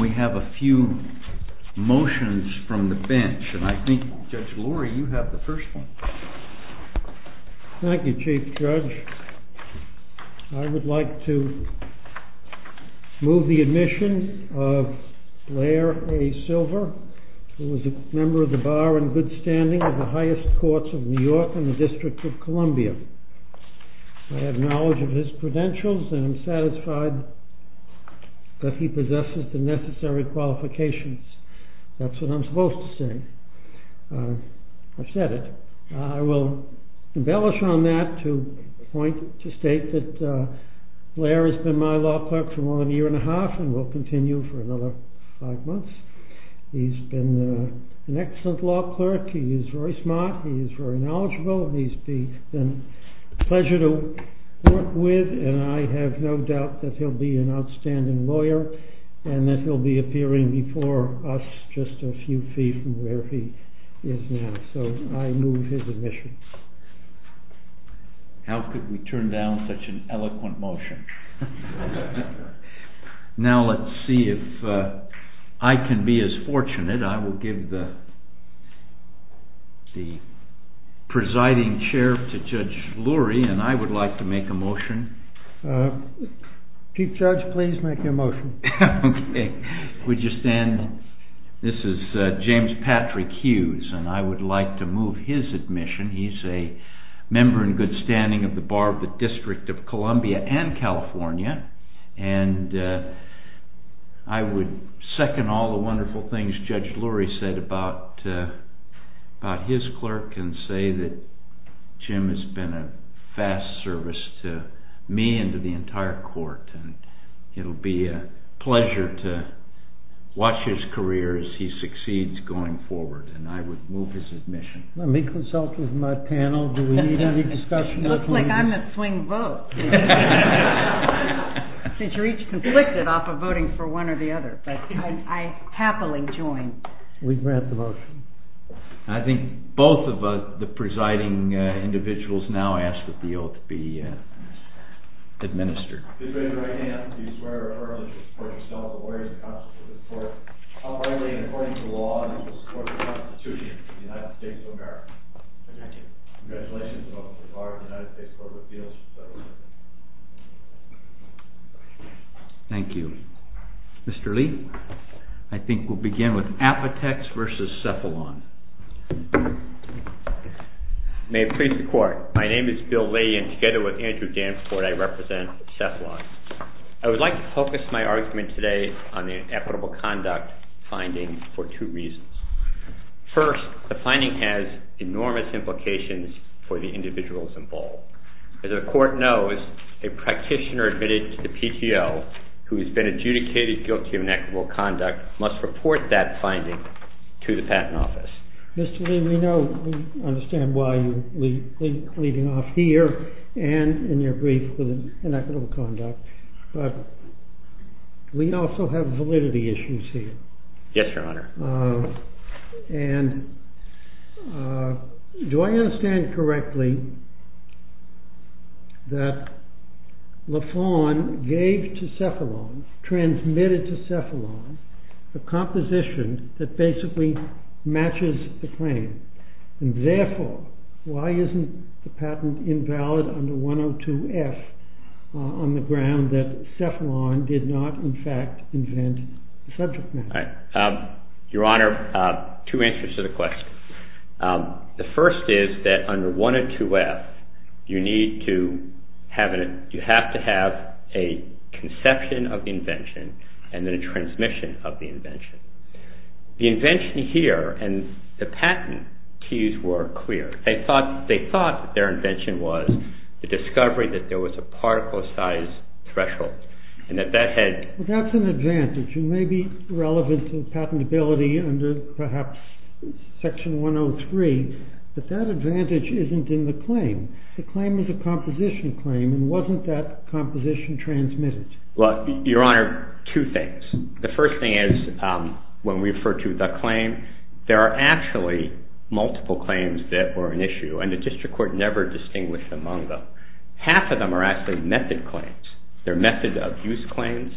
We have a few motions from the bench, and I think, Judge Lurie, you have the first one. Thank you, Chief Judge. I would like to move the admission of Blair A. Silver, who was a member of the Bar in good standing of the highest courts of New York and the District of Columbia. I have knowledge of his credentials, and I'm satisfied that he possesses the necessary qualifications. That's what I'm supposed to say. I've said it. I will embellish on that to state that Blair has been my law clerk for more than a year and a half, and will continue for another five months. He's been an excellent law clerk. He is very smart. He is very knowledgeable. He's been a pleasure to work with, and I have no doubt that he'll be an outstanding lawyer, and that he'll be appearing before us just a few feet from where he is now. So I move his admission. How could we turn down such an eloquent motion? Now let's see if I can be as fortunate. I will give the presiding chair to Judge Lurie, and I would like to make a motion. Chief Judge, please make your motion. Would you stand? This is James Patrick Hughes, and I would like to move his admission. He's a member in good standing of the Bar of the District of Columbia and California, and I would second all the wonderful things Judge Lurie said about his clerk, and say that Jim has been a fast service to me and to the entire court, and it'll be a pleasure to watch his career as he succeeds going forward, and I would move his admission. Let me consult with my panel. Do we need any discussion? It looks like I'm the swing vote, since you're each conflicted off of voting for one or the other, but I happily join. We grant the motion. I think both of the presiding individuals now ask that the oath be administered. Thank you. Thank you. Mr. Lee, I think we'll begin with Apotex v. Cephalon. May it please the court. My name is Bill Lee, and together with Andrew Danforth, I represent Cephalon. I would like to focus my argument today on the equitable conduct finding for two reasons. First, the finding has enormous implications for the individuals involved. As the court knows, a practitioner admitted to the PTO who has been adjudicated guilty of inequitable conduct must report that finding to the Patent Office. Mr. Lee, we understand why you're leading off here and in your brief with inequitable conduct, but we also have validity issues here. Yes, Your Honor. And do I understand correctly that Lafon gave to Cephalon, transmitted to Cephalon, a composition that basically matches the claim? And therefore, why isn't the patent invalid under 102F on the ground that Cephalon did not, in fact, invent the subject matter? Your Honor, two answers to the question. The first is that under 102F, you need to have a conception of the invention and then a transmission of the invention. The invention here and the patent keys were clear. They thought their invention was the discovery that there was a particle size threshold and that that had... Well, that's an advantage. It may be relevant to the patentability under perhaps Section 103, but that advantage isn't in the claim. The claim is a composition claim and wasn't that composition transmitted? Well, Your Honor, two things. The first thing is when we refer to the claim, there are actually multiple claims that were an issue and the district court never distinguished among them. Half of them are actually method claims. They're method of use claims.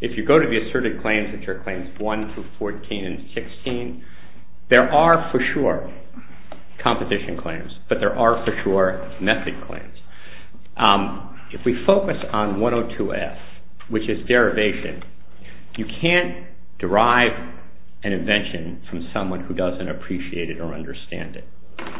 If you go to the asserted claims, which are claims 1 through 14 and 16, there are for sure composition claims, but there are for sure method claims. If we focus on 102F, which is derivation, you can't derive an invention from someone who doesn't appreciate it or understand it.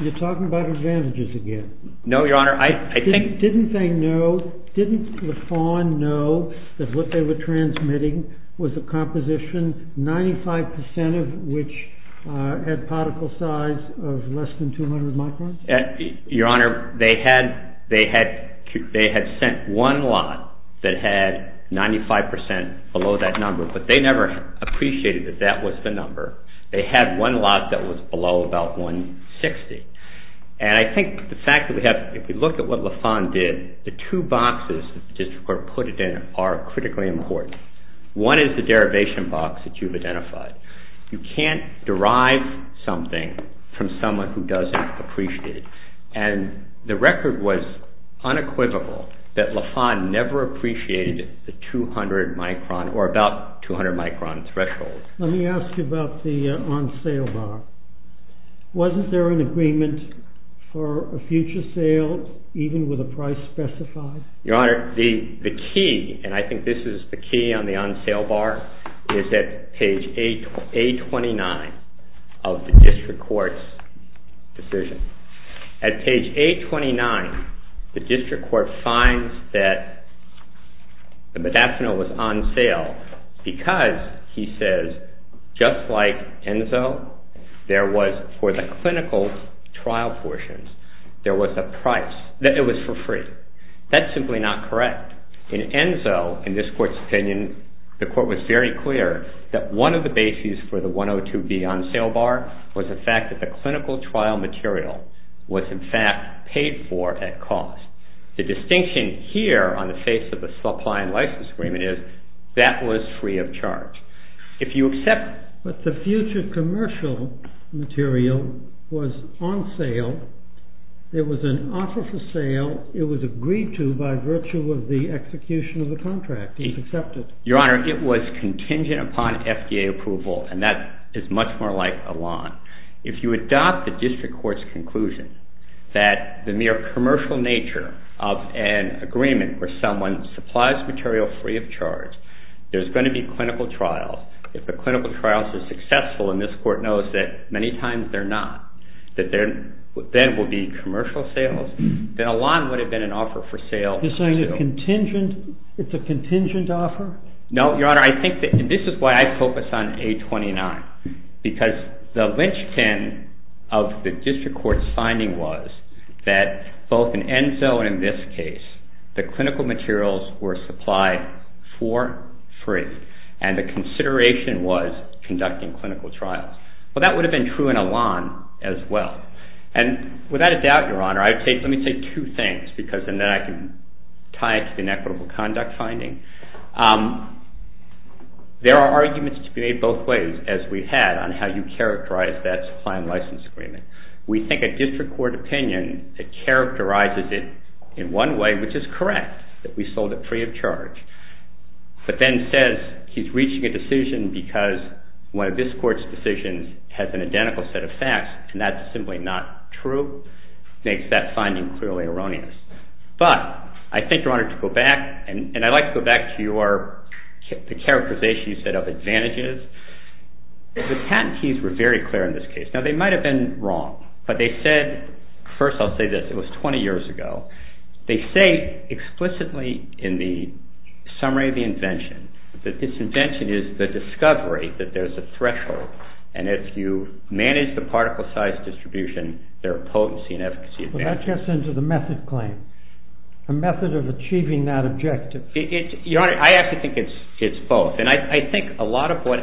You're talking about advantages again. No, Your Honor. Didn't they know, didn't Lafon know that what they were transmitting was a composition 95% of which had particle size of less than 200 microns? Your Honor, they had sent one lot that had 95% below that number, but they never appreciated that that was the number. They had one lot that was below about 160. And I think the fact that we have, if you look at what Lafon did, the two boxes the district court put it in are critically important. One is the derivation box that you've identified. You can't derive something from someone who doesn't appreciate it. And the record was unequivocal that Lafon never appreciated the 200 micron or about 200 micron threshold. Let me ask you about the on sale bar. Wasn't there an agreement for a future sale even with a price specified? Your Honor, the key, and I think this is the key on the on sale bar, is at page A29 of the district court's decision. At page A29, the district court finds that the methanol was on sale because, he says, just like Enzo, there was for the clinical trial portions, there was a price. It was for free. That's simply not correct. In Enzo, in this court's opinion, the court was very clear that one of the bases for the 102B on sale bar was the fact that the clinical trial material was in fact paid for at cost. The distinction here on the face of the supply and license agreement is that was free of charge. But the future commercial material was on sale. There was an offer for sale. It was agreed to by virtue of the execution of the contract. He's accepted. Your Honor, it was contingent upon FDA approval, and that is much more like a lawn. If you adopt the district court's conclusion that the mere commercial nature of an agreement where someone supplies material free of charge, there's going to be clinical trials. If the clinical trials are successful, and this court knows that many times they're not, that there then will be commercial sales, then a lawn would have been an offer for sale. It's a contingent offer? No, Your Honor. I think that this is why I focus on A29, because the linchpin of the district court's finding was that both in Enzo and in this case, the clinical materials were supplied for free, and the consideration was conducting clinical trials. Well, that would have been true in a lawn as well. And without a doubt, Your Honor, let me say two things, and then I can tie it to the inequitable conduct finding. There are arguments to be made both ways, as we've had, on how you characterize that supply and license agreement. We think a district court opinion that characterizes it in one way, which is correct, that we sold it free of charge, but then says he's reaching a decision because one of this court's decisions has an identical set of facts, and that's simply not true, makes that finding clearly erroneous. But I think, Your Honor, to go back, and I'd like to go back to the characterization you said of advantages. The patentees were very clear in this case. Now, they might have been wrong, but they said, first I'll say this, it was 20 years ago. They say explicitly in the summary of the invention that this invention is the discovery that there's a threshold, and if you manage the particle size distribution, there are potency and efficacy advantages. But that gets into the method claim, a method of achieving that objective. Your Honor, I actually think it's both. And I think a lot of what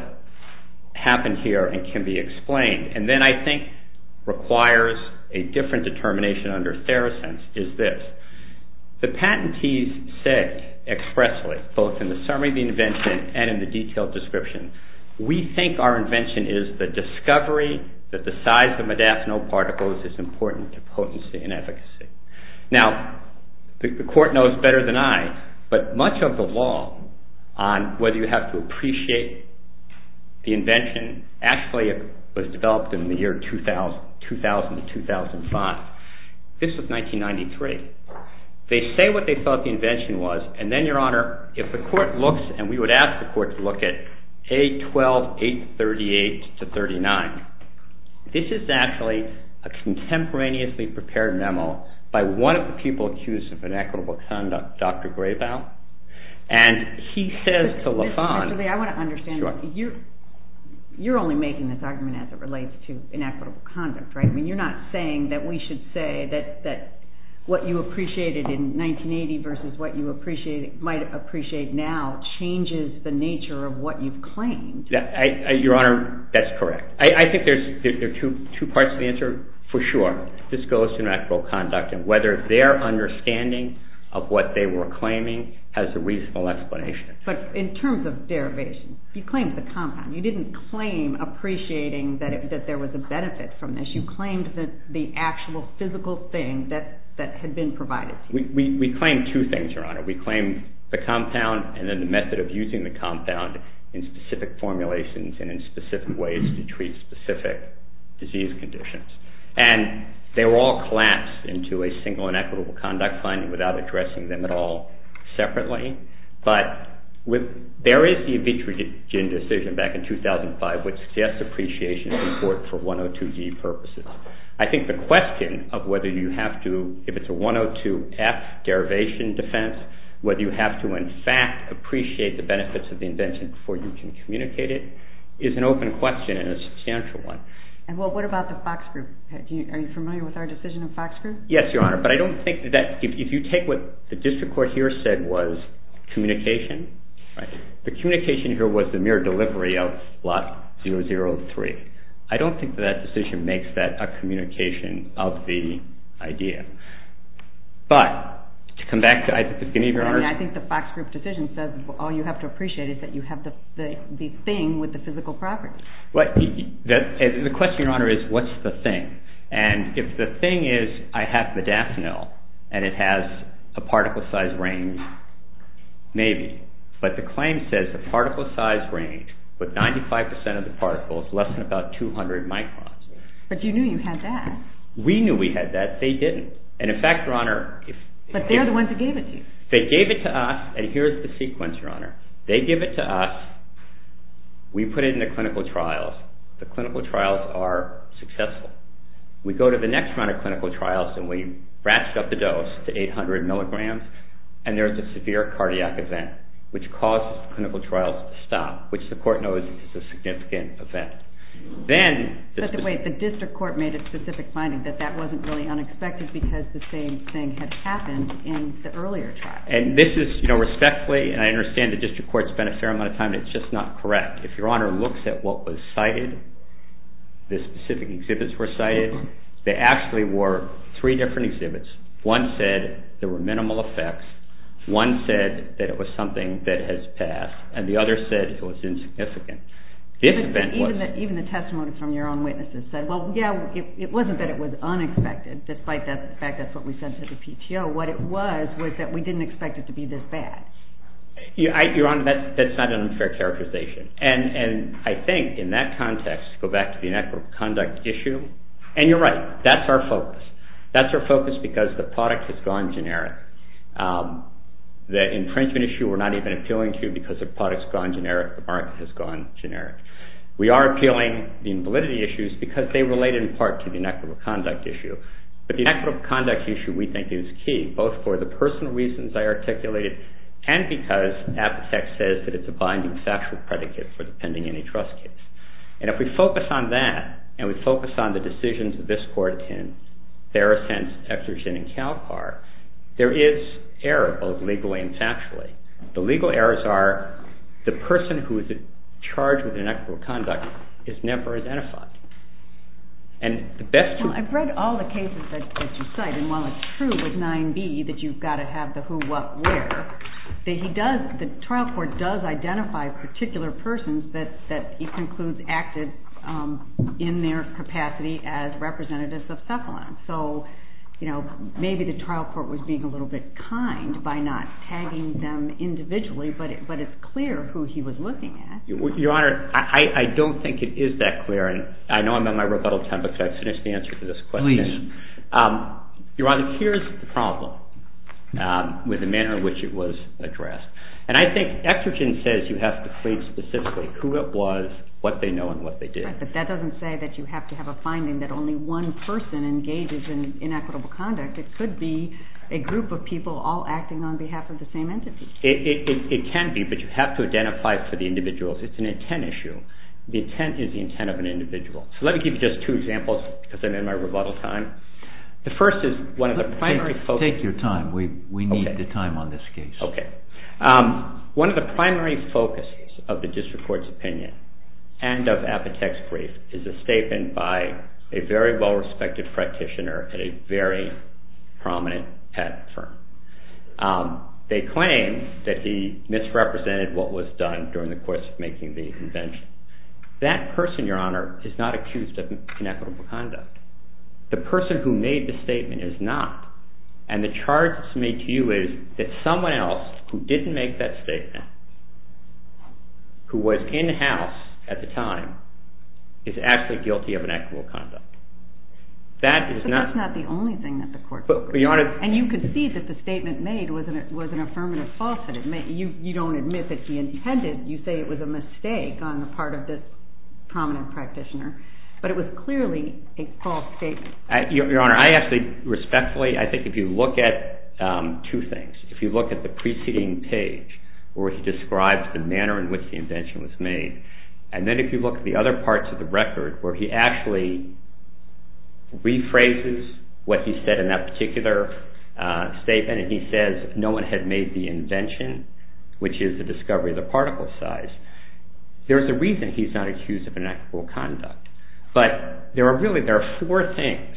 happened here can be explained, and then I think requires a different determination under Therosense is this. The patentees said expressly, both in the summary of the invention and in the detailed description, we think our invention is the discovery that the size of modafinil particles is important to potency and efficacy. Now, the court knows better than I, but much of the law on whether you have to appreciate the invention actually was developed in the year 2000 to 2005. This was 1993. They say what they thought the invention was, and then, Your Honor, if the court looks, and we would ask the court to look at A12-838-39. This is actually a contemporaneously prepared memo by one of the people accused of inequitable conduct, Dr. Gravel. And he says to Lafon— Actually, I want to understand. Sure. You're only making this argument as it relates to inequitable conduct, right? I mean, you're not saying that we should say that what you appreciated in 1980 versus what you might appreciate now changes the nature of what you've claimed. Your Honor, that's correct. I think there are two parts to the answer for sure. This goes to inequitable conduct and whether their understanding of what they were claiming has a reasonable explanation. But in terms of derivation, you claimed the compound. You didn't claim appreciating that there was a benefit from this. You claimed the actual physical thing that had been provided to you. We claimed two things, Your Honor. We claimed the compound and then the method of using the compound in specific formulations and in specific ways to treat specific disease conditions. And they were all collapsed into a single inequitable conduct finding without addressing them at all separately. But there is the Evitrogen decision back in 2005 which suggests appreciation in court for 102-D purposes. I think the question of whether you have to, if it's a 102-F derivation defense, whether you have to in fact appreciate the benefits of the invention before you can communicate it is an open question and a substantial one. And what about the Fox Group? Are you familiar with our decision on Fox Group? Yes, Your Honor. But I don't think that if you take what the district court here said was communication, the communication here was the mere delivery of lot 003. I don't think that decision makes that a communication of the idea. But to come back to it, I think the Fox Group decision says all you have to appreciate is that you have the thing with the physical property. The question, Your Honor, is what's the thing? And if the thing is I have modafinil and it has a particle size range, maybe. But the claim says the particle size range with 95% of the particles, less than about 200 microns. But you knew you had that. We knew we had that. They didn't. And in fact, Your Honor. But they're the ones who gave it to you. They gave it to us. And here's the sequence, Your Honor. They give it to us. We put it into clinical trials. The clinical trials are successful. We go to the next round of clinical trials and we ratchet up the dose to 800 milligrams. And there's a severe cardiac event which causes the clinical trials to stop, which the court knows is a significant event. But wait. The district court made a specific finding that that wasn't really unexpected because the same thing had happened in the earlier trial. And this is respectfully, and I understand the district court spent a fair amount of time, it's just not correct. If Your Honor looks at what was cited, the specific exhibits were cited, they actually were three different exhibits. One said there were minimal effects. One said that it was something that has passed. And the other said it was insignificant. Even the testimony from your own witnesses said, well, yeah, it wasn't that it was unexpected, despite the fact that's what we said to the PTO. What it was was that we didn't expect it to be this bad. Your Honor, that's not an unfair characterization. And I think in that context, go back to the inequitable conduct issue, and you're right, that's our focus. That's our focus because the product has gone generic. The infringement issue we're not even appealing to because the product's gone generic, the market has gone generic. We are appealing the validity issues because they relate in part to the inequitable conduct issue. But the inequitable conduct issue, we think, is key, both for the personal reasons I articulated, and because Apotex says that it's a binding factual predicate for the pending antitrust case. And if we focus on that, and we focus on the decisions of this court in Ferrocent, Exergen, and CalPAR, there is error, both legally and factually. The legal errors are the person who is charged with inequitable conduct is never identified. Well, I've read all the cases that you cite, and while it's true with 9b that you've got to have the who, what, where, the trial court does identify particular persons that it concludes acted in their capacity as representatives of Cephalon. So maybe the trial court was being a little bit kind by not tagging them individually, but it's clear who he was looking at. Your Honor, I don't think it is that clear, and I know I'm on my rebuttal time, but could I finish the answer to this question? Please. Your Honor, here's the problem with the manner in which it was addressed. And I think Exergen says you have to plead specifically who it was, what they know, and what they did. Right, but that doesn't say that you have to have a finding that only one person engages in inequitable conduct. It could be a group of people all acting on behalf of the same entity. It can be, but you have to identify it for the individuals. It's an intent issue. The intent is the intent of an individual. So let me give you just two examples because I'm in my rebuttal time. The first is one of the primary focuses. Take your time. We need the time on this case. Okay. One of the primary focuses of the district court's opinion and of Apotek's brief is a statement by a very well-respected practitioner at a very prominent patent firm. They claim that he misrepresented what was done during the course of making the invention. That person, Your Honor, is not accused of inequitable conduct. The person who made the statement is not. And the charge that's made to you is that someone else who didn't make that statement, who was in-house at the time, is actually guilty of inequitable conduct. But that's not the only thing that the court could do. And you could see that the statement made was an affirmative falsehood. You don't admit that he intended. You say it was a mistake on the part of this prominent practitioner. But it was clearly a false statement. Your Honor, I actually, respectfully, I think if you look at two things. If you look at the preceding page where he describes the manner in which the invention was made, and then if you look at the other parts of the record where he actually rephrases what he said in that particular statement, and he says no one had made the invention, which is the discovery of the particle size, there's a reason he's not accused of inequitable conduct. But there are really, there are four things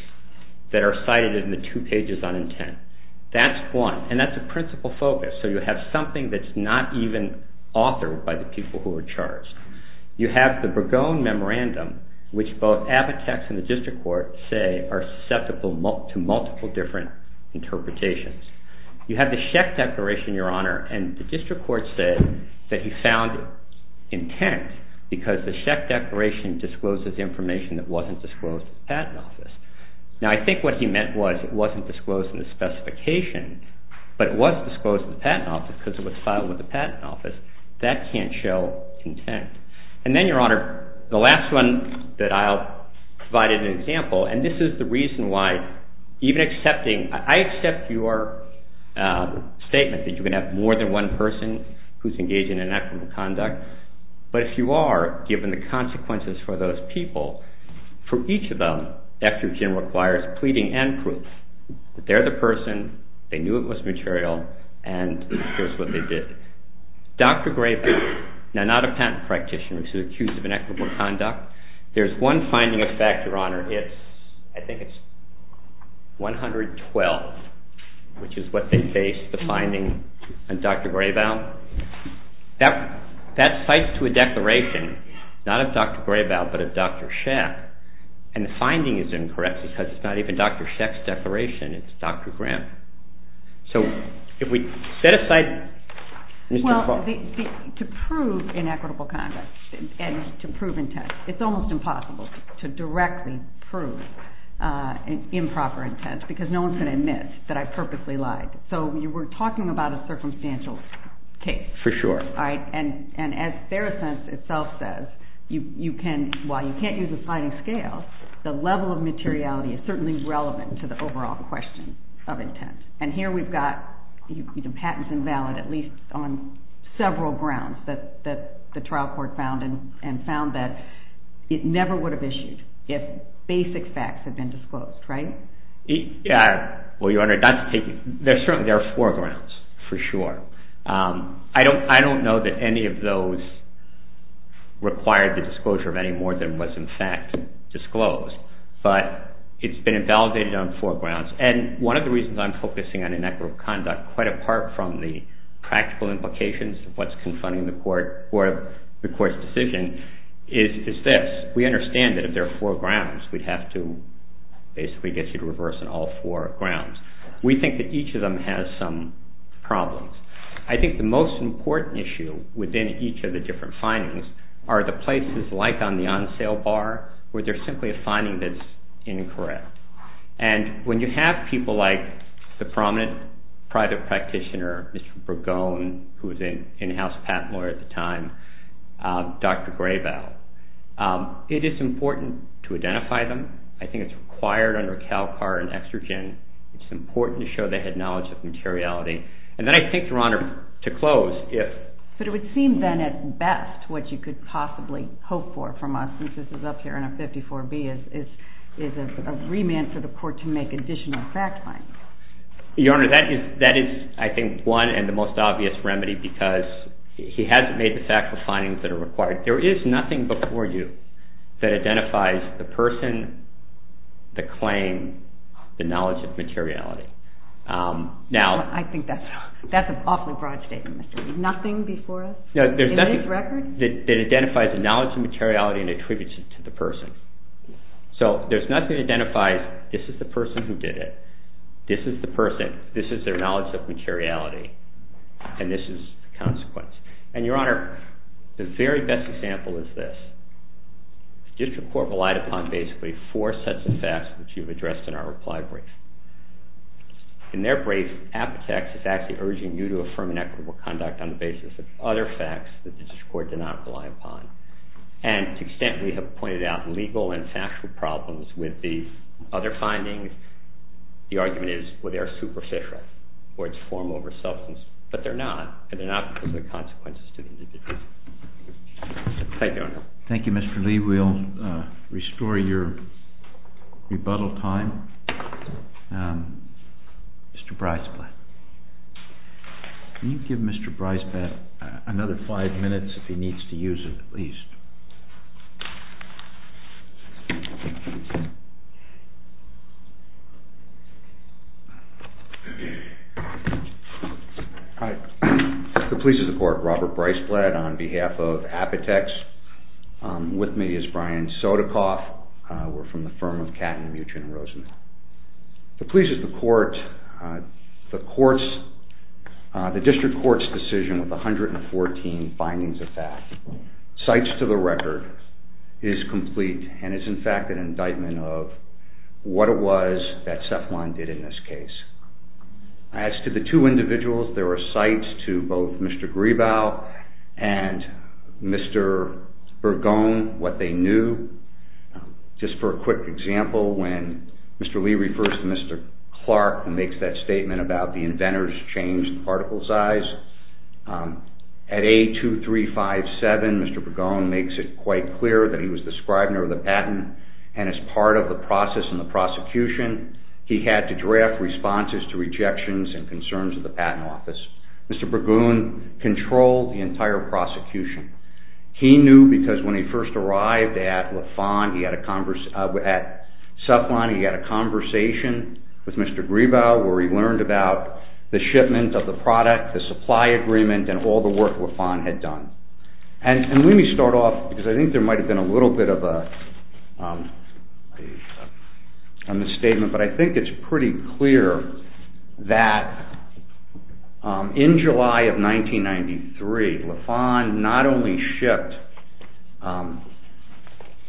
that are cited in the two pages on intent. That's one, and that's a principal focus. So you have something that's not even authored by the people who are charged. You have the Burgone Memorandum, which both Abbott Tax and the District Court say are susceptible to multiple different interpretations. You have the Schecht Declaration, Your Honor, and the District Court said that he found intent because the Schecht Declaration discloses information that wasn't disclosed in the Patent Office. Now, I think what he meant was it wasn't disclosed in the specification, but it was disclosed in the Patent Office because it was filed with the Patent Office. That can't show intent. And then, Your Honor, the last one that I'll provide as an example, and this is the reason why even accepting, I accept your statement that you can have more than one person who's engaged in inequitable conduct, but if you are, given the consequences for those people, for each of them, effigy requires pleading and proof. They're the person, they knew it was material, and here's what they did. Dr. Gravel, now not a patent practitioner, was accused of inequitable conduct. There's one finding of fact, Your Honor. It's, I think it's 112, which is what they based the finding on Dr. Gravel. Now, that cites to a declaration, not of Dr. Gravel, but of Dr. Schecht, and the finding is incorrect because it's not even Dr. Schecht's declaration. It's Dr. Graham. So if we set aside Mr. Clark. Well, to prove inequitable conduct and to prove intent, it's almost impossible to directly prove improper intent because no one's going to admit that I purposely lied. So you were talking about a circumstantial case. For sure. And as Fair Assent itself says, you can, while you can't use a sliding scale, the level of materiality is certainly relevant to the overall question of intent. And here we've got patents invalid, at least on several grounds that the trial court found and found that it never would have issued if basic facts had been disclosed, right? Yeah. Well, Your Honor, that's taking, there's certainly, there are four grounds for sure. I don't, I don't know that any of those required the disclosure of any more than was in fact disclosed, but it's been invalidated on four grounds. And one of the reasons I'm focusing on inequitable conduct quite apart from the practical implications of what's confronting the court or the court's decision is this. We understand that if there are four grounds, we'd have to basically get you to reverse on all four grounds. We think that each of them has some problems. I think the most important issue within each of the different findings are the places, like on the on-sale bar, where there's simply a finding that's incorrect. And when you have people like the prominent private practitioner, Mr. Burgone, who was an in-house patent lawyer at the time, Dr. Graybell, it is important to identify them. I think it's required under CalCard and Exergen. It's important to show they had knowledge of materiality. And then I think, Your Honor, to close, if. But it would seem then at best what you could possibly hope for from us, since this is up here in a 54B, is a remand for the court to make additional fact-finding. Your Honor, that is, I think, one and the most obvious remedy, because he hasn't made the factual findings that are required. There is nothing before you that identifies the person, the claim, the knowledge of materiality. I think that's an awfully broad statement, Mr. Lee. Nothing before us in this record? There's nothing that identifies the knowledge of materiality and attributes it to the person. So there's nothing that identifies this is the person who did it. This is the person. This is their knowledge of materiality. And this is the consequence. And, Your Honor, the very best example is this. The district court relied upon basically four sets of facts, which you've addressed in our reply brief. In their brief, Apotex is actually urging you to affirm an equitable conduct on the basis of other facts that the district court did not rely upon. And to the extent we have pointed out legal and factual problems with these other findings, the argument is, well, they're superficial, or it's form over substance. But they're not, and they're not because of the consequences to the individual. Thank you, Your Honor. Thank you, Mr. Lee. We'll restore your rebuttal time. Mr. Breisblatt. Can you give Mr. Breisblatt another five minutes, if he needs to use it at least? Hi. The police of the court. Robert Breisblatt on behalf of Apotex. With me is Brian Sotokoff. We're from the firm of Catton, Mutchin, and Rosenman. The police of the court. The district court's decision with 114 findings of theft. Cites to the record. It is complete, and is in fact an indictment of what it was that Cephalon did in this case. As to the two individuals, there are cites to both Mr. Gribau and Mr. Bergone, what they knew. Just for a quick example, when Mr. Lee refers to Mr. Clark, and makes that statement about the inventor's changed particle size, at A2357, Mr. Bergone makes it quite clear that he was the scrivener of the patent, and as part of the process and the prosecution, he had to draft responses to rejections and concerns of the patent office. Mr. Bergone controlled the entire prosecution. He knew because when he first arrived at Cephalon, he had a conversation with Mr. Gribau, where he learned about the shipment of the product, the supply agreement, and all the work Lafon had done. Let me start off, because I think there might have been a little bit of a misstatement, but I think it's pretty clear that in July of 1993, Lafon not only shipped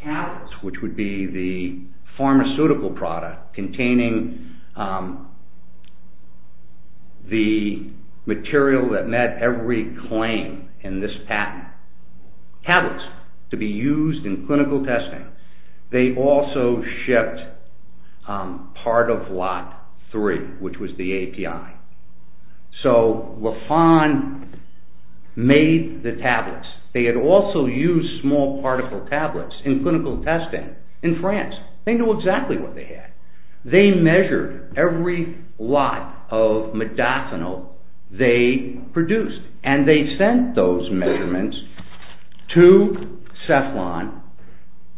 tablets, which would be the pharmaceutical product, containing the material that met every claim in this patent, tablets to be used in clinical testing, they also shipped part of Lot 3, which was the API. So Lafon made the tablets. They had also used small particle tablets in clinical testing in France. They knew exactly what they had. They measured every lot of modafinil they produced, and they sent those measurements to Cephalon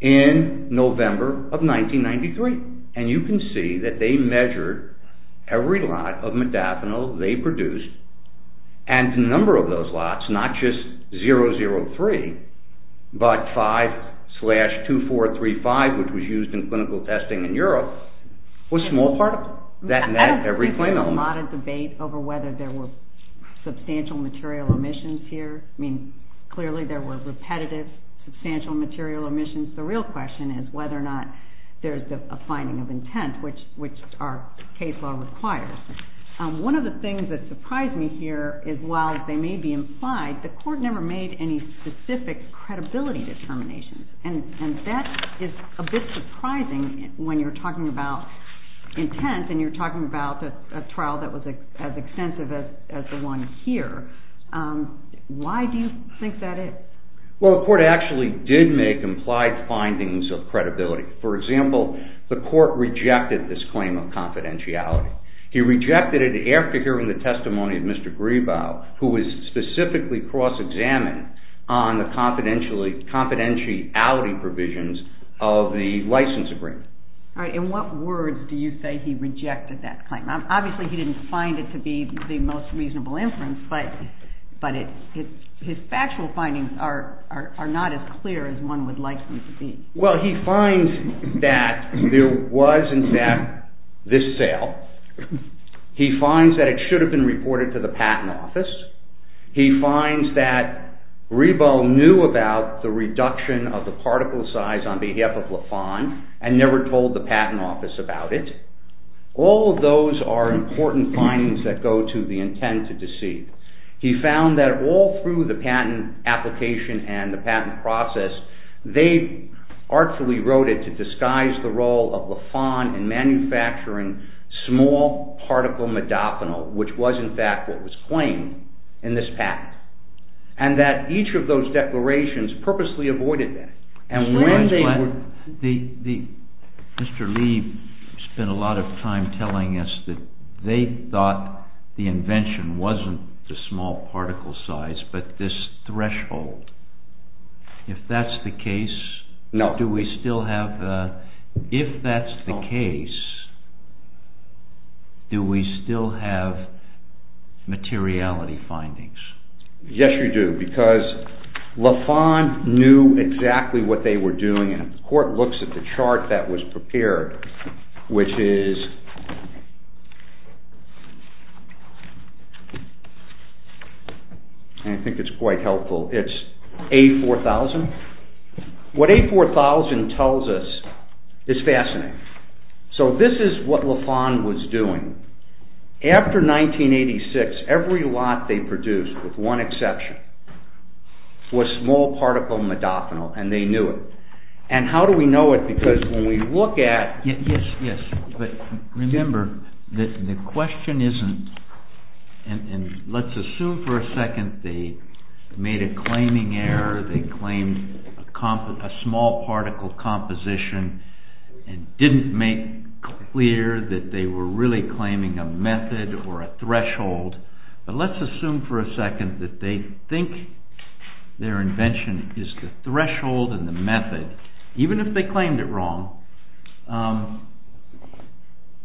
in November of 1993. And you can see that they measured every lot of modafinil they produced, and the number of those lots, not just 003, but 5-2435, which was used in clinical testing in Europe, was small particle. That met every claim element. There was a lot of debate over whether there were substantial material omissions here. I mean, clearly there were repetitive, substantial material omissions. The real question is whether or not there's a finding of intent, which our case law requires. One of the things that surprised me here is while they may be implied, the court never made any specific credibility determinations, and that is a bit surprising when you're talking about intent and you're talking about a trial that was as extensive as the one here. Why do you think that is? Well, the court actually did make implied findings of credibility. For example, the court rejected this claim of confidentiality. He rejected it after hearing the testimony of Mr. Grebow, who was specifically cross-examined on the confidentiality provisions of the license agreement. All right. In what words do you say he rejected that claim? Obviously he didn't find it to be the most reasonable inference, but his factual findings are not as clear as one would like them to be. Well, he finds that there was, in fact, this sale. He finds that it should have been reported to the patent office. He finds that Grebow knew about the reduction of the particle size on behalf of La Fon and never told the patent office about it. All of those are important findings that go to the intent to deceive. He found that all through the patent application and the patent process, they artfully wrote it to disguise the role of La Fon in manufacturing small particle modophenol, which was, in fact, what was claimed in this patent, and that each of those declarations purposely avoided that. Mr. Lee spent a lot of time telling us that they thought the invention wasn't the small particle size, but this threshold. If that's the case, do we still have materiality findings? Yes, we do, because La Fon knew exactly what they were doing, and the court looks at the chart that was prepared, which is A4000. What A4000 tells us is fascinating. So this is what La Fon was doing. After 1986, every lot they produced, with one exception, was small particle modophenol, and they knew it. And how do we know it? Because when we look at... Yes, yes, but remember, the question isn't... Let's assume for a second they made a claiming error, they claimed a small particle composition and didn't make clear that they were really claiming a method or a threshold. But let's assume for a second that they think their invention is the threshold and the method, even if they claimed it wrong.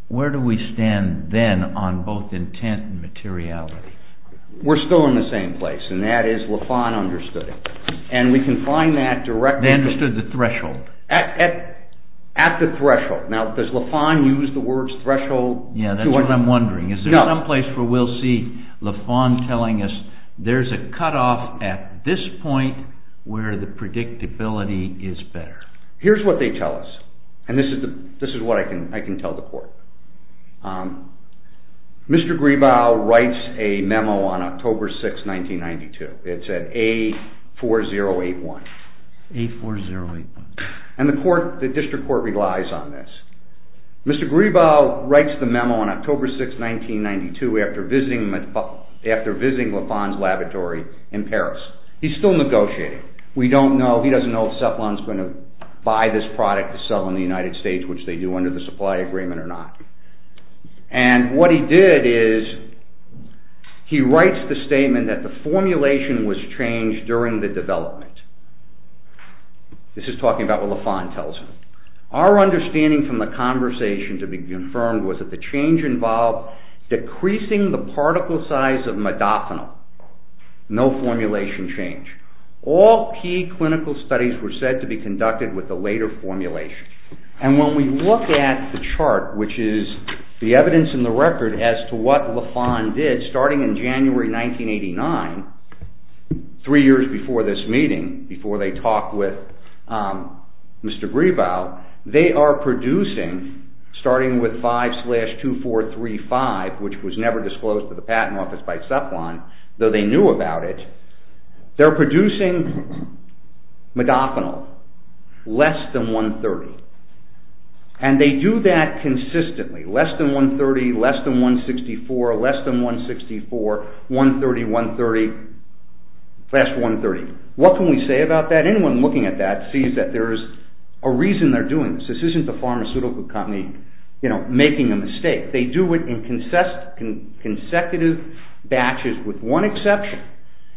Where do we stand then on both intent and materiality? We're still in the same place, and that is La Fon understood it. And we can find that directly... at the threshold. Now, does La Fon use the words threshold? Yes, that's what I'm wondering. Is there some place where we'll see La Fon telling us there's a cut-off at this point where the predictability is better? Here's what they tell us, and this is what I can tell the court. Mr. Gribau writes a memo on October 6, 1992. It said A4081. A4081. And the district court relies on this. Mr. Gribau writes the memo on October 6, 1992 after visiting La Fon's laboratory in Paris. He's still negotiating. He doesn't know if Ceplan's going to buy this product to sell in the United States, which they do under the supply agreement or not. And what he did is he writes the statement that the formulation was changed during the development. This is talking about what La Fon tells him. Our understanding from the conversation to be confirmed was that the change involved decreasing the particle size of modafinil. No formulation change. All key clinical studies were said to be conducted with the later formulation. And when we look at the chart, which is the evidence in the record as to what La Fon did starting in January 1989, three years before this meeting, before they talked with Mr. Gribau, they are producing, starting with 5-2435, which was never disclosed to the patent office by Ceplan, though they knew about it, they're producing modafinil less than 130. And they do that consistently. Less than 130, less than 164, less than 164, 130, 130, less than 130. What can we say about that? Anyone looking at that sees that there is a reason they're doing this. This isn't the pharmaceutical company making a mistake. They do it in consecutive batches with one exception,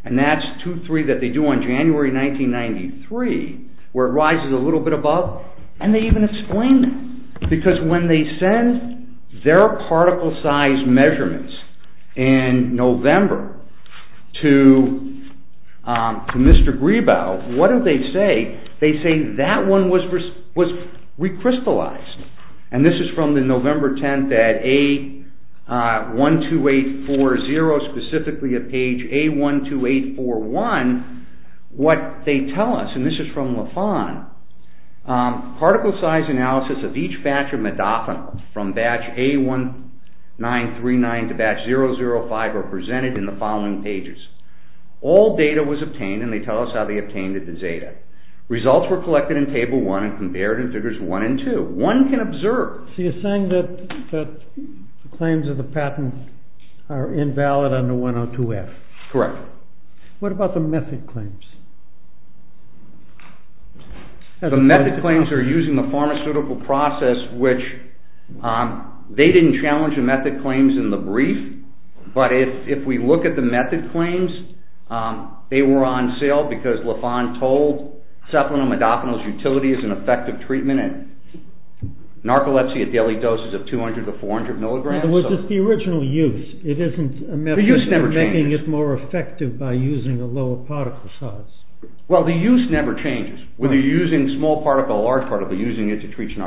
and that's 2-3 that they do on January 1993, where it rises a little bit above, and they even explain that. Because when they send their particle size measurements in November to Mr. Gribau, what do they say? They say that one was recrystallized. And this is from the November 10th at A12840, specifically at page A12841, particle size analysis of each batch of modafinil from batch A1939 to batch 005 are presented in the following pages. All data was obtained, and they tell us how they obtained it in Zeta. Results were collected in Table 1 and compared in Figures 1 and 2. One can observe... So you're saying that the claims of the patent are invalid under 102F. Correct. What about the mythic claims? The mythic claims are using the pharmaceutical process, which they didn't challenge the mythic claims in the brief, but if we look at the mythic claims, they were on sale because Lafon told Cephalonil modafinil's utility is an effective treatment in narcolepsy at daily doses of 200 to 400 milligrams. In other words, it's the original use. The use never changed. You're making it more effective by using a lower particle size. Well, the use never changes. Whether you're using small particle or large particle, you're using it to treat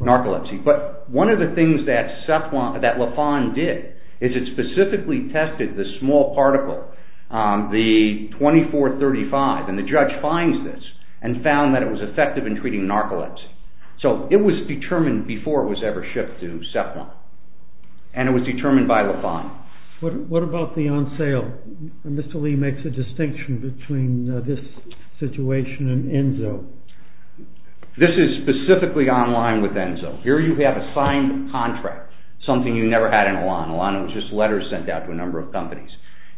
narcolepsy. But one of the things that Lafon did is it specifically tested the small particle, the 2435, and the judge finds this and found that it was effective in treating narcolepsy. So it was determined before it was ever shipped to Cephalon, and it was determined by Lafon. What about the on sale? Mr. Lee makes a distinction between this situation and Enso. This is specifically online with Enso. Here you have a signed contract, something you never had in Elan. Elan was just letters sent out to a number of companies.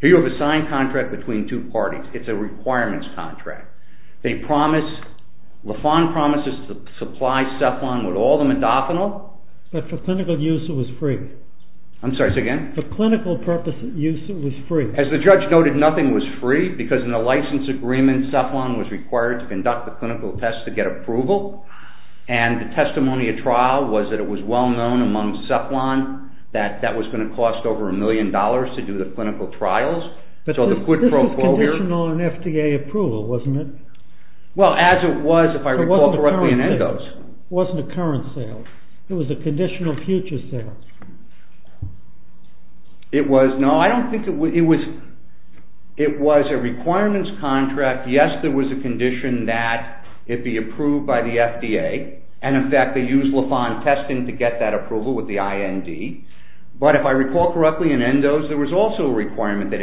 Here you have a signed contract between two parties. It's a requirements contract. Lafon promises to supply Cephalon with all the modafinil... But for clinical use it was free. I'm sorry, say again? For clinical purpose use it was free. As the judge noted, nothing was free because in the license agreement, Cephalon was required to conduct the clinical test to get approval, and the testimony at trial was that it was well known among Cephalon that that was going to cost over a million dollars to do the clinical trials. But this was conditional on FDA approval, wasn't it? Well, as it was if I recall correctly in Enso's. It wasn't a current sale. It was a conditional future sale. It was... No, I don't think it was... It was a requirements contract. Yes, there was a condition that it be approved by the FDA, and in fact they used Lafon's testing to get that approval with the IND. But if I recall correctly in Enso's, there was also a requirement that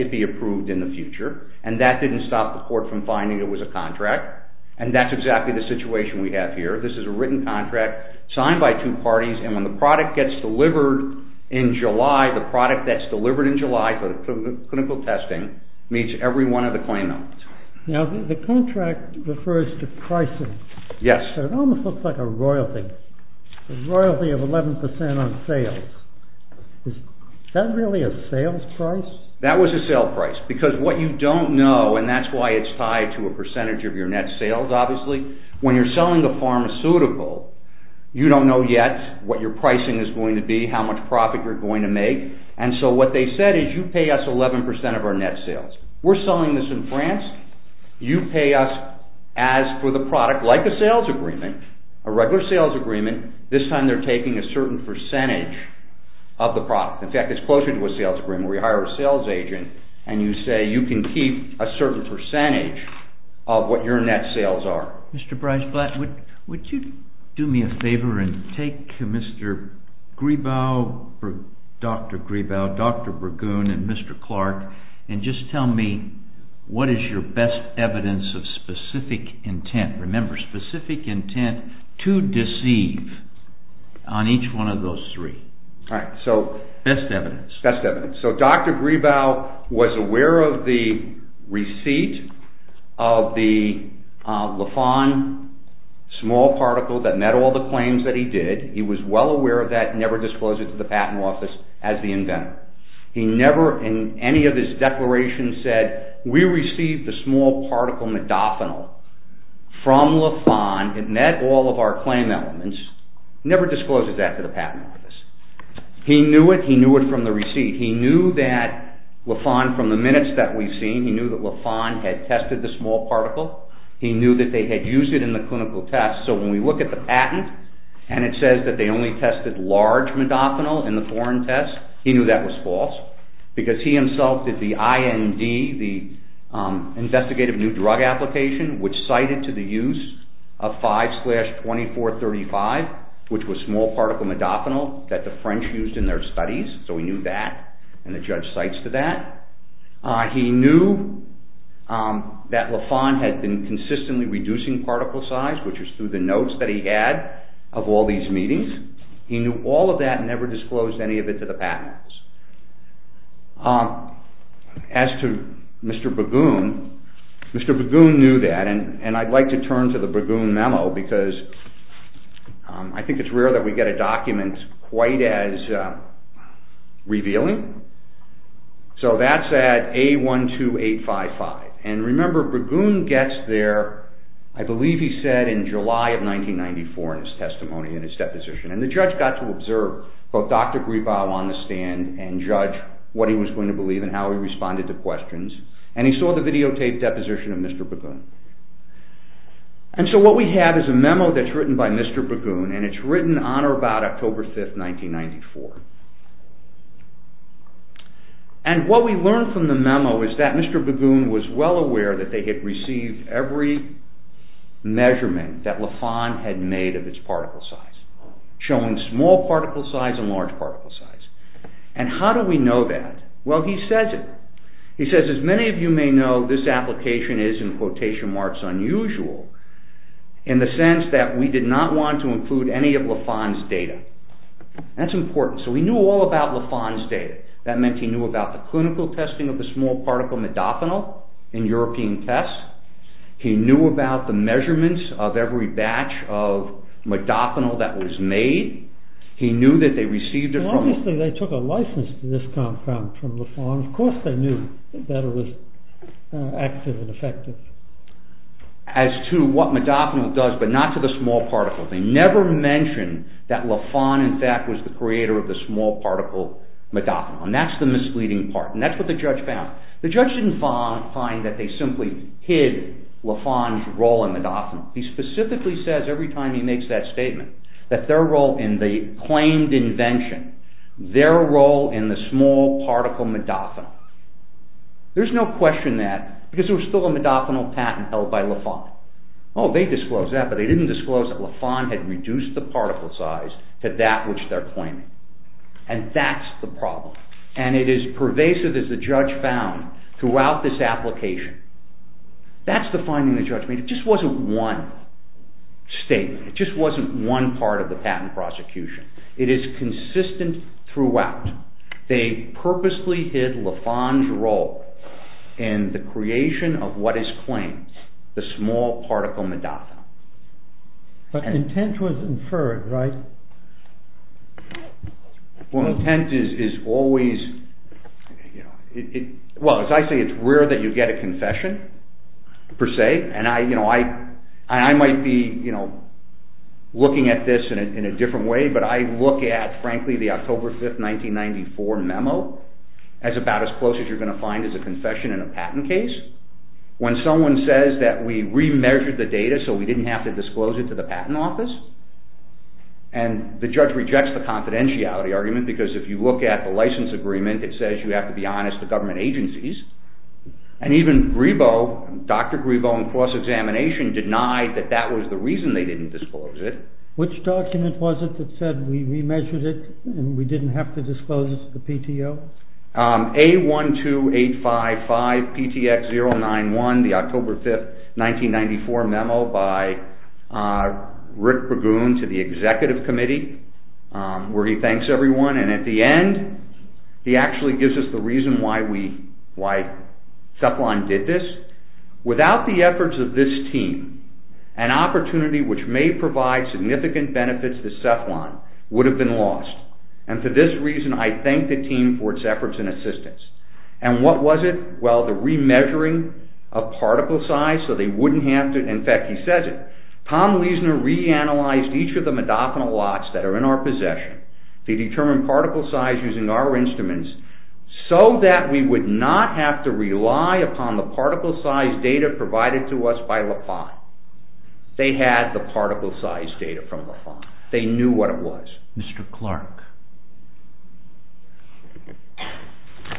it be approved in the future, and that didn't stop the court from finding it was a contract, and that's exactly the situation we have here. This is a written contract signed by two parties, and when the product gets delivered in July, the product that's delivered in July for the clinical testing meets every one of the claimant. Now, the contract refers to pricing. Yes. So it almost looks like a royalty, a royalty of 11% on sales. Is that really a sales price? That was a sales price, because what you don't know, and that's why it's tied to a percentage of your net sales, obviously, when you're selling a pharmaceutical, you don't know yet what your pricing is going to be, how much profit you're going to make, and so what they said is you pay us 11% of our net sales. We're selling this in France. You pay us as for the product, like a sales agreement, a regular sales agreement. This time they're taking a certain percentage of the product. In fact, it's closer to a sales agreement. We hire a sales agent, and you say you can keep a certain percentage of what your net sales are. Mr. Breisblatt, would you do me a favor and take Dr. Gribau, Dr. Burgund, and Mr. Clark, and just tell me what is your best evidence of specific intent. Remember, specific intent to deceive on each one of those three. Best evidence. So, Dr. Gribau was aware of the receipt of the Lafon small particle that met all the claims that he did. He was well aware of that and never disclosed it to the patent office as the inventor. He never, in any of his declarations, said, we received the small particle modafinil from Lafon. It met all of our claim elements. He never disclosed that to the patent office. He knew it. He knew it from the receipt. He knew that Lafon, from the minutes that we've seen, he knew that Lafon had tested the small particle. He knew that they had used it in the clinical test. So, when we look at the patent, and it says that they only tested large modafinil in the foreign test, he knew that was false, because he himself did the IND, the investigative new drug application, which cited to the use of 5-2435, which was small particle modafinil, that the French used in their studies. So, he knew that, and the judge cites to that. He knew that Lafon had been consistently reducing particle size, which was through the notes that he had of all these meetings. He knew all of that and never disclosed any of it to the patent office. As to Mr. Bergoun, Mr. Bergoun knew that, and I'd like to turn to the Bergoun memo, because I think it's rare that we get a document quite as revealing. So, that's at A12855. And remember, Bergoun gets there, I believe he said in July of 1994 in his testimony, in his deposition, and the judge got to observe both Dr. Gribau on the stand and judge what he was going to believe and how he responded to questions, and he saw the videotaped deposition of Mr. Bergoun. And so what we have is a memo that's written by Mr. Bergoun, and it's written on or about October 5th, 1994. And what we learn from the memo is that Mr. Bergoun was well aware that they had received every measurement that Lafon had made of its particle size, showing small particle size and large particle size. And how do we know that? Well, he says it. How do we know this application is, in quotation marks, unusual? In the sense that we did not want to include any of Lafon's data. That's important. So he knew all about Lafon's data. That meant he knew about the clinical testing of the small particle modofanil in European tests. He knew about the measurements of every batch of modofanil that was made. He knew that they received it from... Well, obviously they took a license to this compound from Lafon. Of course they knew that it was active and effective. As to what modofanil does, but not to the small particle. They never mention that Lafon, in fact, was the creator of the small particle modofanil. And that's the misleading part. And that's what the judge found. The judge didn't find that they simply hid Lafon's role in modofanil. He specifically says every time he makes that statement that their role in the claimed invention, their role in the small particle modofanil. There's no question that. Because there was still a modofanil patent held by Lafon. Oh, they disclosed that, but they didn't disclose that Lafon had reduced the particle size to that which they're claiming. And that's the problem. And it is pervasive, as the judge found, throughout this application. That's the finding the judge made. It just wasn't one statement. It just wasn't one part of the patent prosecution. It is consistent throughout. They purposely hid Lafon's role in the creation of what is claimed, the small particle modofanil. But intent was inferred, right? Well, intent is always... Well, as I say, it's rare that you get a confession, per se. And I might be looking at this in a different way, but I look at, frankly, the October 5, 1994 memo as about as close as you're going to find as a confession in a patent case. When someone says that we remeasured the data so we didn't have to disclose it to the patent office, and the judge rejects the confidentiality argument because if you look at the license agreement, it says you have to be honest to government agencies. And even Dr. Grebo in cross-examination denied that that was the reason they didn't disclose it. Which document was it that said we remeasured it and we didn't have to disclose it to the PTO? A12855PTX091, the October 5, 1994 memo by Rick Bragun to the executive committee, where he thanks everyone, and at the end, he actually gives us the reason why Ceplan did this. Without the efforts of this team, an opportunity which may provide significant benefits to Ceplan would have been lost. And for this reason, I thank the team for its efforts and assistance. And what was it? Well, the remeasuring of particle size so they wouldn't have to, in fact, he says it, Tom Leisner reanalyzed each of the modafinil lots that are in our possession. He determined particle size using our instruments so that we would not have to rely upon the particle size data provided to us by LaPont. They had the particle size data from LaPont. They knew what it was. Mr. Clark,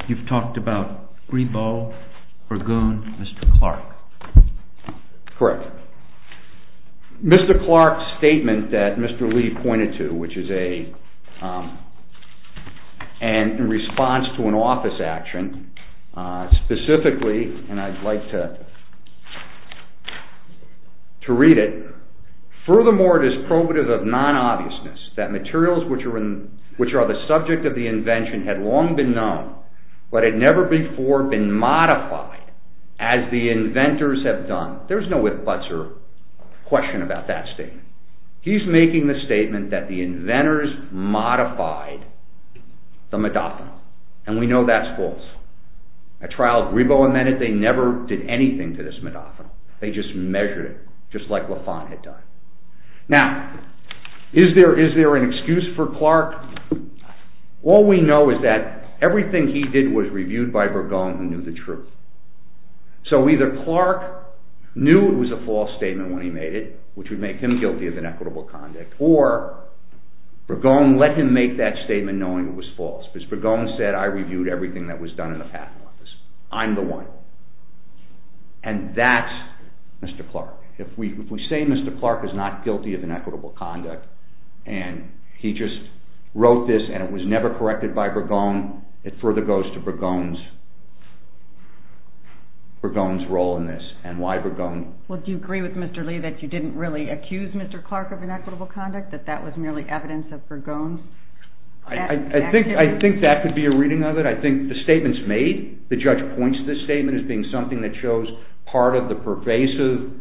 you've talked about Grebeau, Bragun, Mr. Clark. Correct. Mr. Clark's statement that Mr. Lee pointed to, which is in response to an office action, specifically, and I'd like to read it, furthermore it is probative of non-obviousness that materials which are the subject of the invention had long been known, but had never before been modified as the inventors have done. There's no if, buts, or question about that statement. He's making the statement that the inventors modified the modafinil. And we know that's false. At trial, Grebeau amended it. They never did anything to this modafinil. They just measured it, just like LaPont had done. Now, is there an excuse for Clark? All we know is that everything he did was reviewed by Bragun who knew the truth. So either Clark knew it was a false statement when he made it, which would make him guilty of inequitable conduct, or Bragun let him make that statement knowing it was false because Bragun said, I reviewed everything that was done in the patent office. I'm the one. And that's Mr. Clark. If we say Mr. Clark is not guilty of inequitable conduct and he just wrote this and it was never corrected by Bragun, it further goes to Bragun's role in this and why Bragun... Well, do you agree with Mr. Lee that you didn't really accuse Mr. Clark of inequitable conduct, that that was merely evidence of Bragun's... I think that could be a reading of it. I think the statements made, the judge points to this statement as being something that shows part of the pervasive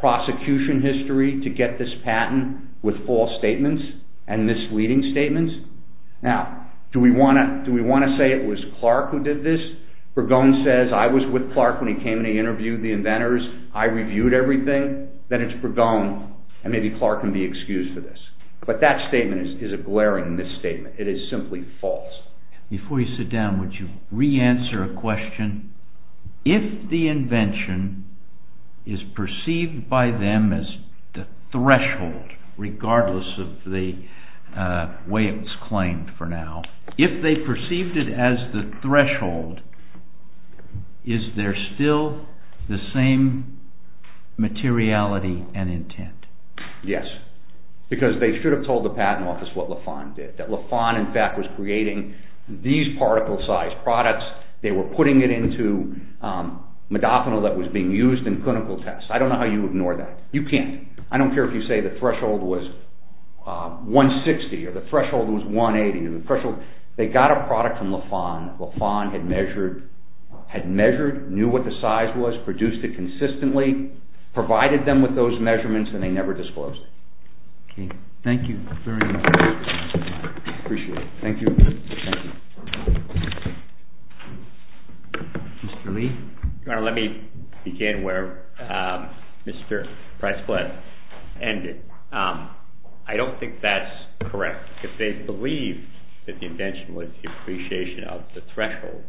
prosecution history to get this patent with false statements and misleading statements. Now, do we want to say it was Clark who did this? Bragun says, I was with Clark when he came and he interviewed the inventors, I reviewed everything, then it's Bragun and maybe Clark can be excused for this. But that statement is a glaring misstatement. It is simply false. Before you sit down, would you re-answer a question? If the invention is perceived by them as the threshold, regardless of the way it was claimed for now, if they perceived it as the threshold, is there still the same materiality and intent? Yes. Because they should have told the patent office what Lafon did, that Lafon, in fact, was creating these particle-sized products, they were putting it into modafinil that was being used in clinical tests. I don't know how you ignore that. You can't. I don't care if you say the threshold was 160 or the threshold was 180. They got a product from Lafon, Lafon had measured, knew what the size was, produced it consistently, provided them with those measurements, and they never disclosed it. Okay. Thank you very much. I appreciate it. Thank you. Thank you. Mr. Lee? Let me begin where Mr. Price-Blood ended. I don't think that's correct. If they believed that the invention was the appreciation of the threshold,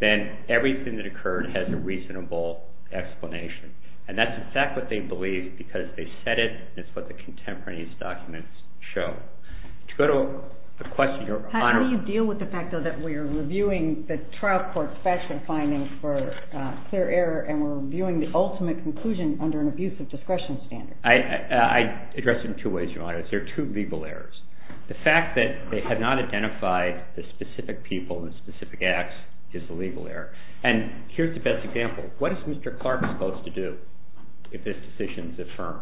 then everything that occurred has a reasonable explanation. And that's exactly what they believed because they said it, and it's what the contemporaneous documents show. To go to the question, Your Honor. How do you deal with the fact, though, that we are reviewing the trial court's factual findings for clear error and we're reviewing the ultimate conclusion under an abuse of discretion standard? I address it in two ways, Your Honor. There are two legal errors. The fact that they have not identified the specific people and specific acts is the legal error. And here's the best example. What is Mr. Clark supposed to do if this decision is affirmed?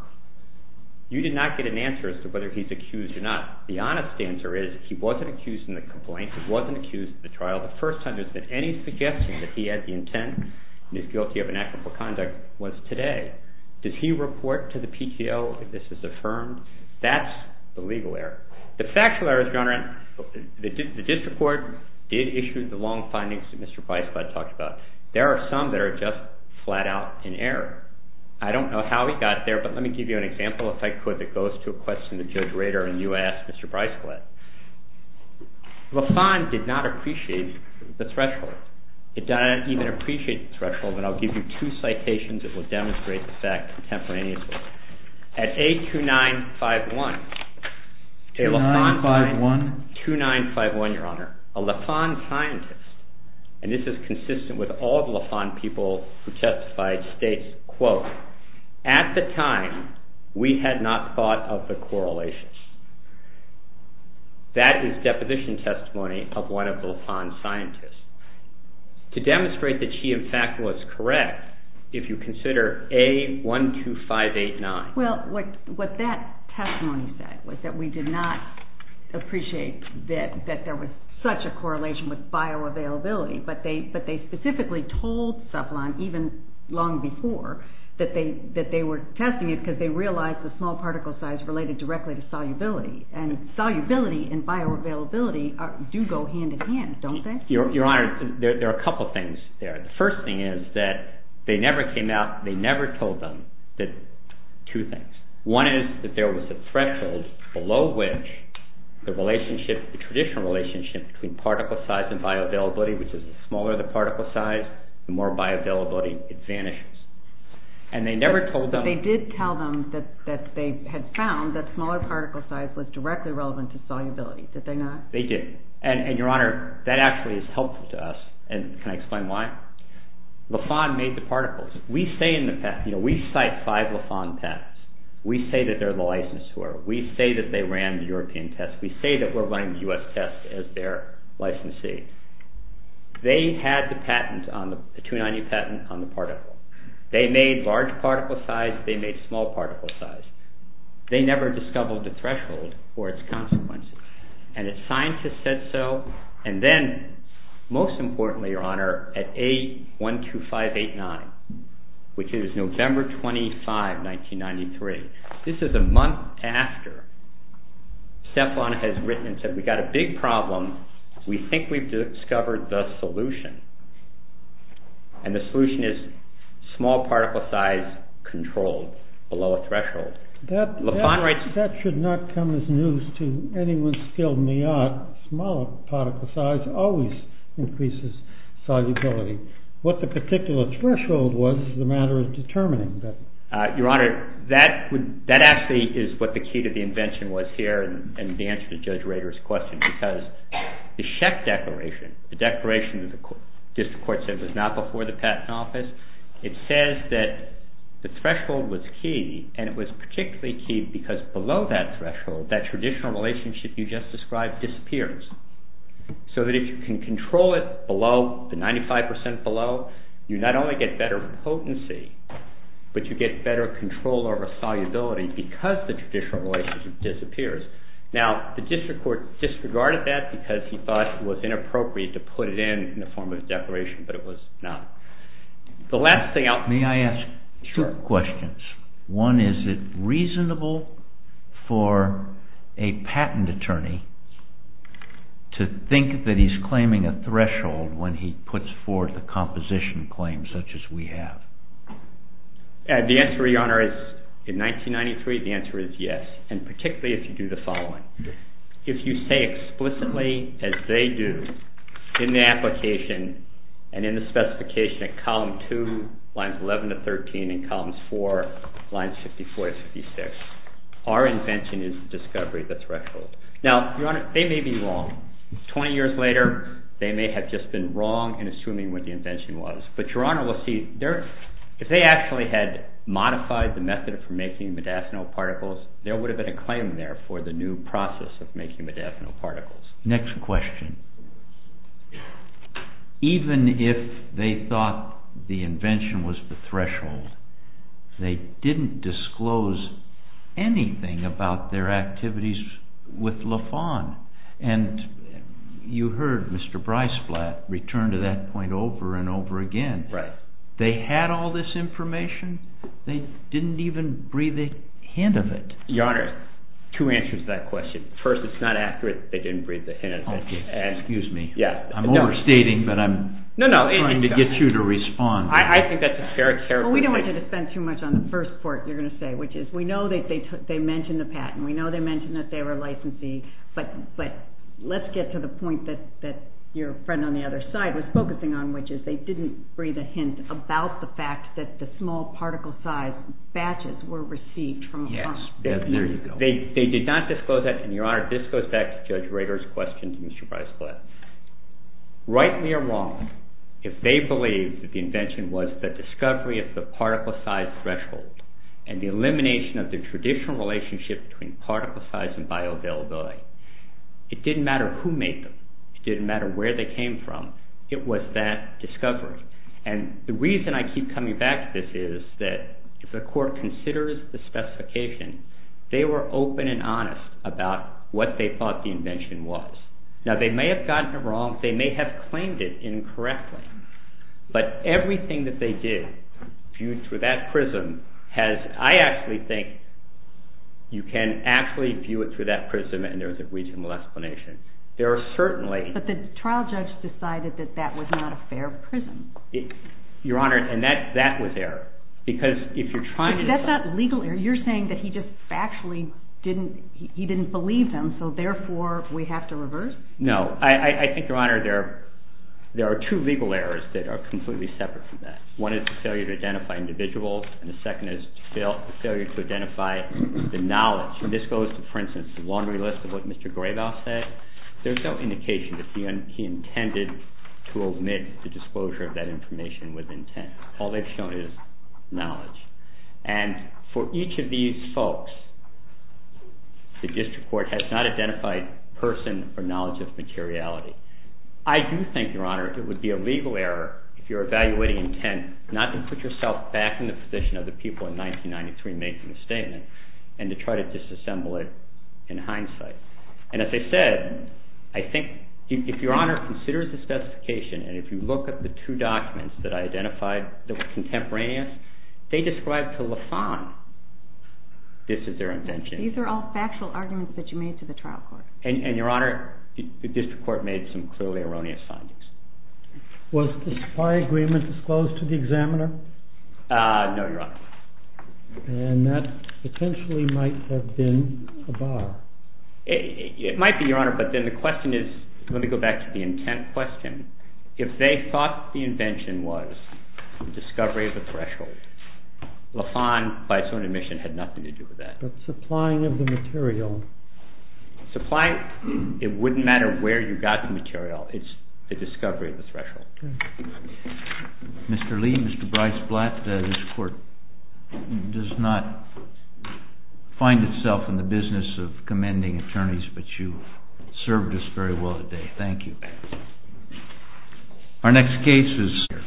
You did not get an answer as to whether he's accused or not. The honest answer is he wasn't accused in the complaint. He wasn't accused in the trial. The first time there's been any suggestion that he had the intent and is guilty of inactive conduct was today. Does he report to the PTO if this is affirmed? That's the legal error. The factual error is, Your Honor, the district court did issue the long findings that Mr. Price-Blood talked about. There are some that are just flat out in error. I don't know how he got there, but let me give you an example, if I could, that goes to a question that Judge Rader and you asked Mr. Price-Blood. Lafon did not appreciate the threshold. He didn't even appreciate the threshold. And I'll give you two citations that will demonstrate the fact contemporaneously. At A2951. 2951. 2951, Your Honor. A Lafon scientist, and this is consistent with all the Lafon people who testified, states, quote, at the time we had not thought of the correlations. That is deposition testimony of one of the Lafon scientists. To demonstrate that she, in fact, was correct, if you consider A12589. Well, what that testimony said was that we did not appreciate that there was such a correlation with bioavailability. But they specifically told Cephalon, even long before, that they were testing it because they realized the small particle size related directly to solubility. And solubility and bioavailability do go hand in hand, don't they? Your Honor, there are a couple of things there. The first thing is that they never came out, they never told them two things. One is that there was a threshold below which the relationship, the traditional relationship between particle size and bioavailability, which is the smaller the particle size, the more bioavailability it vanishes. And they never told them. But they did tell them that they had found that smaller particle size was directly relevant to solubility, did they not? They did. And, Your Honor, that actually is helpful to us. And can I explain why? Lafon made the particles. We say in the past, you know, we cite five Lafon tests. We say that they're the licensure. We say that they ran the European test. We say that we're running the U.S. test as their licensee. They had the patent, the 290 patent on the particle. They made large particle size. They made small particle size. They never discovered the threshold or its consequences. And the scientists said so. And then, most importantly, Your Honor, at A12589, which is November 25, 1993, this is a month after Stefan has written and said, we've got a big problem. We think we've discovered the solution. And the solution is small particle size controlled below a threshold. That should not come as news to anyone skilled in the art. Small particle size always increases solubility. What the particular threshold was is a matter of determining that. Your Honor, that actually is what the key to the invention was here and the answer to Judge Rader's question because the Schecht Declaration, the declaration that the district court said was not before the patent office, it says that the threshold was key, and it was particularly key because below that threshold, that traditional relationship you just described disappears. So that if you can control it below, the 95% below, you not only get better potency, but you get better control over solubility because the traditional relationship disappears. Now, the district court disregarded that because he thought it was inappropriate to put it in in the form of a declaration, but it was not. May I ask two questions? One, is it reasonable for a patent attorney to think that he's claiming a threshold when he puts forth a composition claim such as we have? The answer, Your Honor, is in 1993, the answer is yes, and particularly if you do the following. If you say explicitly as they do in the application and in the specification at column 2, lines 11 to 13, and columns 4, lines 54 to 56, our invention is discovery the threshold. Now, Your Honor, they may be wrong. Twenty years later, they may have just been wrong in assuming what the invention was. But, Your Honor, we'll see. If they actually had modified the method for making modafinil particles, there would have been a claim there for the new process of making modafinil particles. Next question. Even if they thought the invention was the threshold, they didn't disclose anything about their activities with Lafon. And you heard Mr. Breisflat return to that point over and over again. Right. They had all this information. They didn't even breathe a hint of it. Your Honor, two answers to that question. First, it's not accurate that they didn't breathe a hint of it. Excuse me. I'm overstating, but I'm trying to get you to respond. I think that's a fair explanation. Well, we don't want you to spend too much on the first part, you're going to say, which is we know that they mentioned the patent. We know they mentioned that they were licensee. But let's get to the point that your friend on the other side was focusing on, which is they didn't breathe a hint about the fact that the small particle size batches were received from Lafon. Yes, there you go. They did not disclose that. And, Your Honor, this goes back to Judge Rader's question to Mr. Breisflat. Rightly or wrongly, if they believed that the invention was the discovery of the particle size threshold and the elimination of the traditional relationship between particle size and bioavailability, it didn't matter who made them. It didn't matter where they came from. It was that discovery. And the reason I keep coming back to this is that if the court considers the specification, they were open and honest about what they thought the invention was. Now, they may have gotten it wrong. They may have claimed it incorrectly. But everything that they did, viewed through that prism, has, I actually think, you can actually view it through that prism and there is a reasonable explanation. There are certainly. But the trial judge decided that that was not a fair prism. Your Honor, and that was error. Because if you're trying to. That's not legal error. You're saying that he just factually didn't, he didn't believe them, so therefore we have to reverse? No. I think, Your Honor, there are two legal errors that are completely separate from that. One is the failure to identify individuals. And the second is the failure to identify the knowledge. And this goes to, for instance, the laundry list of what Mr. Graybell said. There's no indication that he intended to omit the disclosure of that information with intent. All they've shown is knowledge. And for each of these folks, the district court has not identified person or knowledge of materiality. I do think, Your Honor, it would be a legal error if you're evaluating intent not to put yourself back in the position of the people in 1993 making the statement and to try to disassemble it in hindsight. And as I said, I think if Your Honor considers the specification and if you look at the two documents that I identified that were contemporaneous, they describe to LaFond this is their intention. These are all factual arguments that you made to the trial court. And, Your Honor, the district court made some clearly erroneous findings. Was the supply agreement disclosed to the examiner? No, Your Honor. And that potentially might have been a bar. It might be, Your Honor, but then the question is, let me go back to the intent question. If they thought the invention was the discovery of the threshold, LaFond, by its own admission, had nothing to do with that. But supplying of the material. Supplying, it wouldn't matter where you got the material. It's the discovery of the threshold. Mr. Lee, Mr. Bryce Blatt, this court does not find itself in the business of commending attorneys, but you served us very well today. Thank you. Our next case is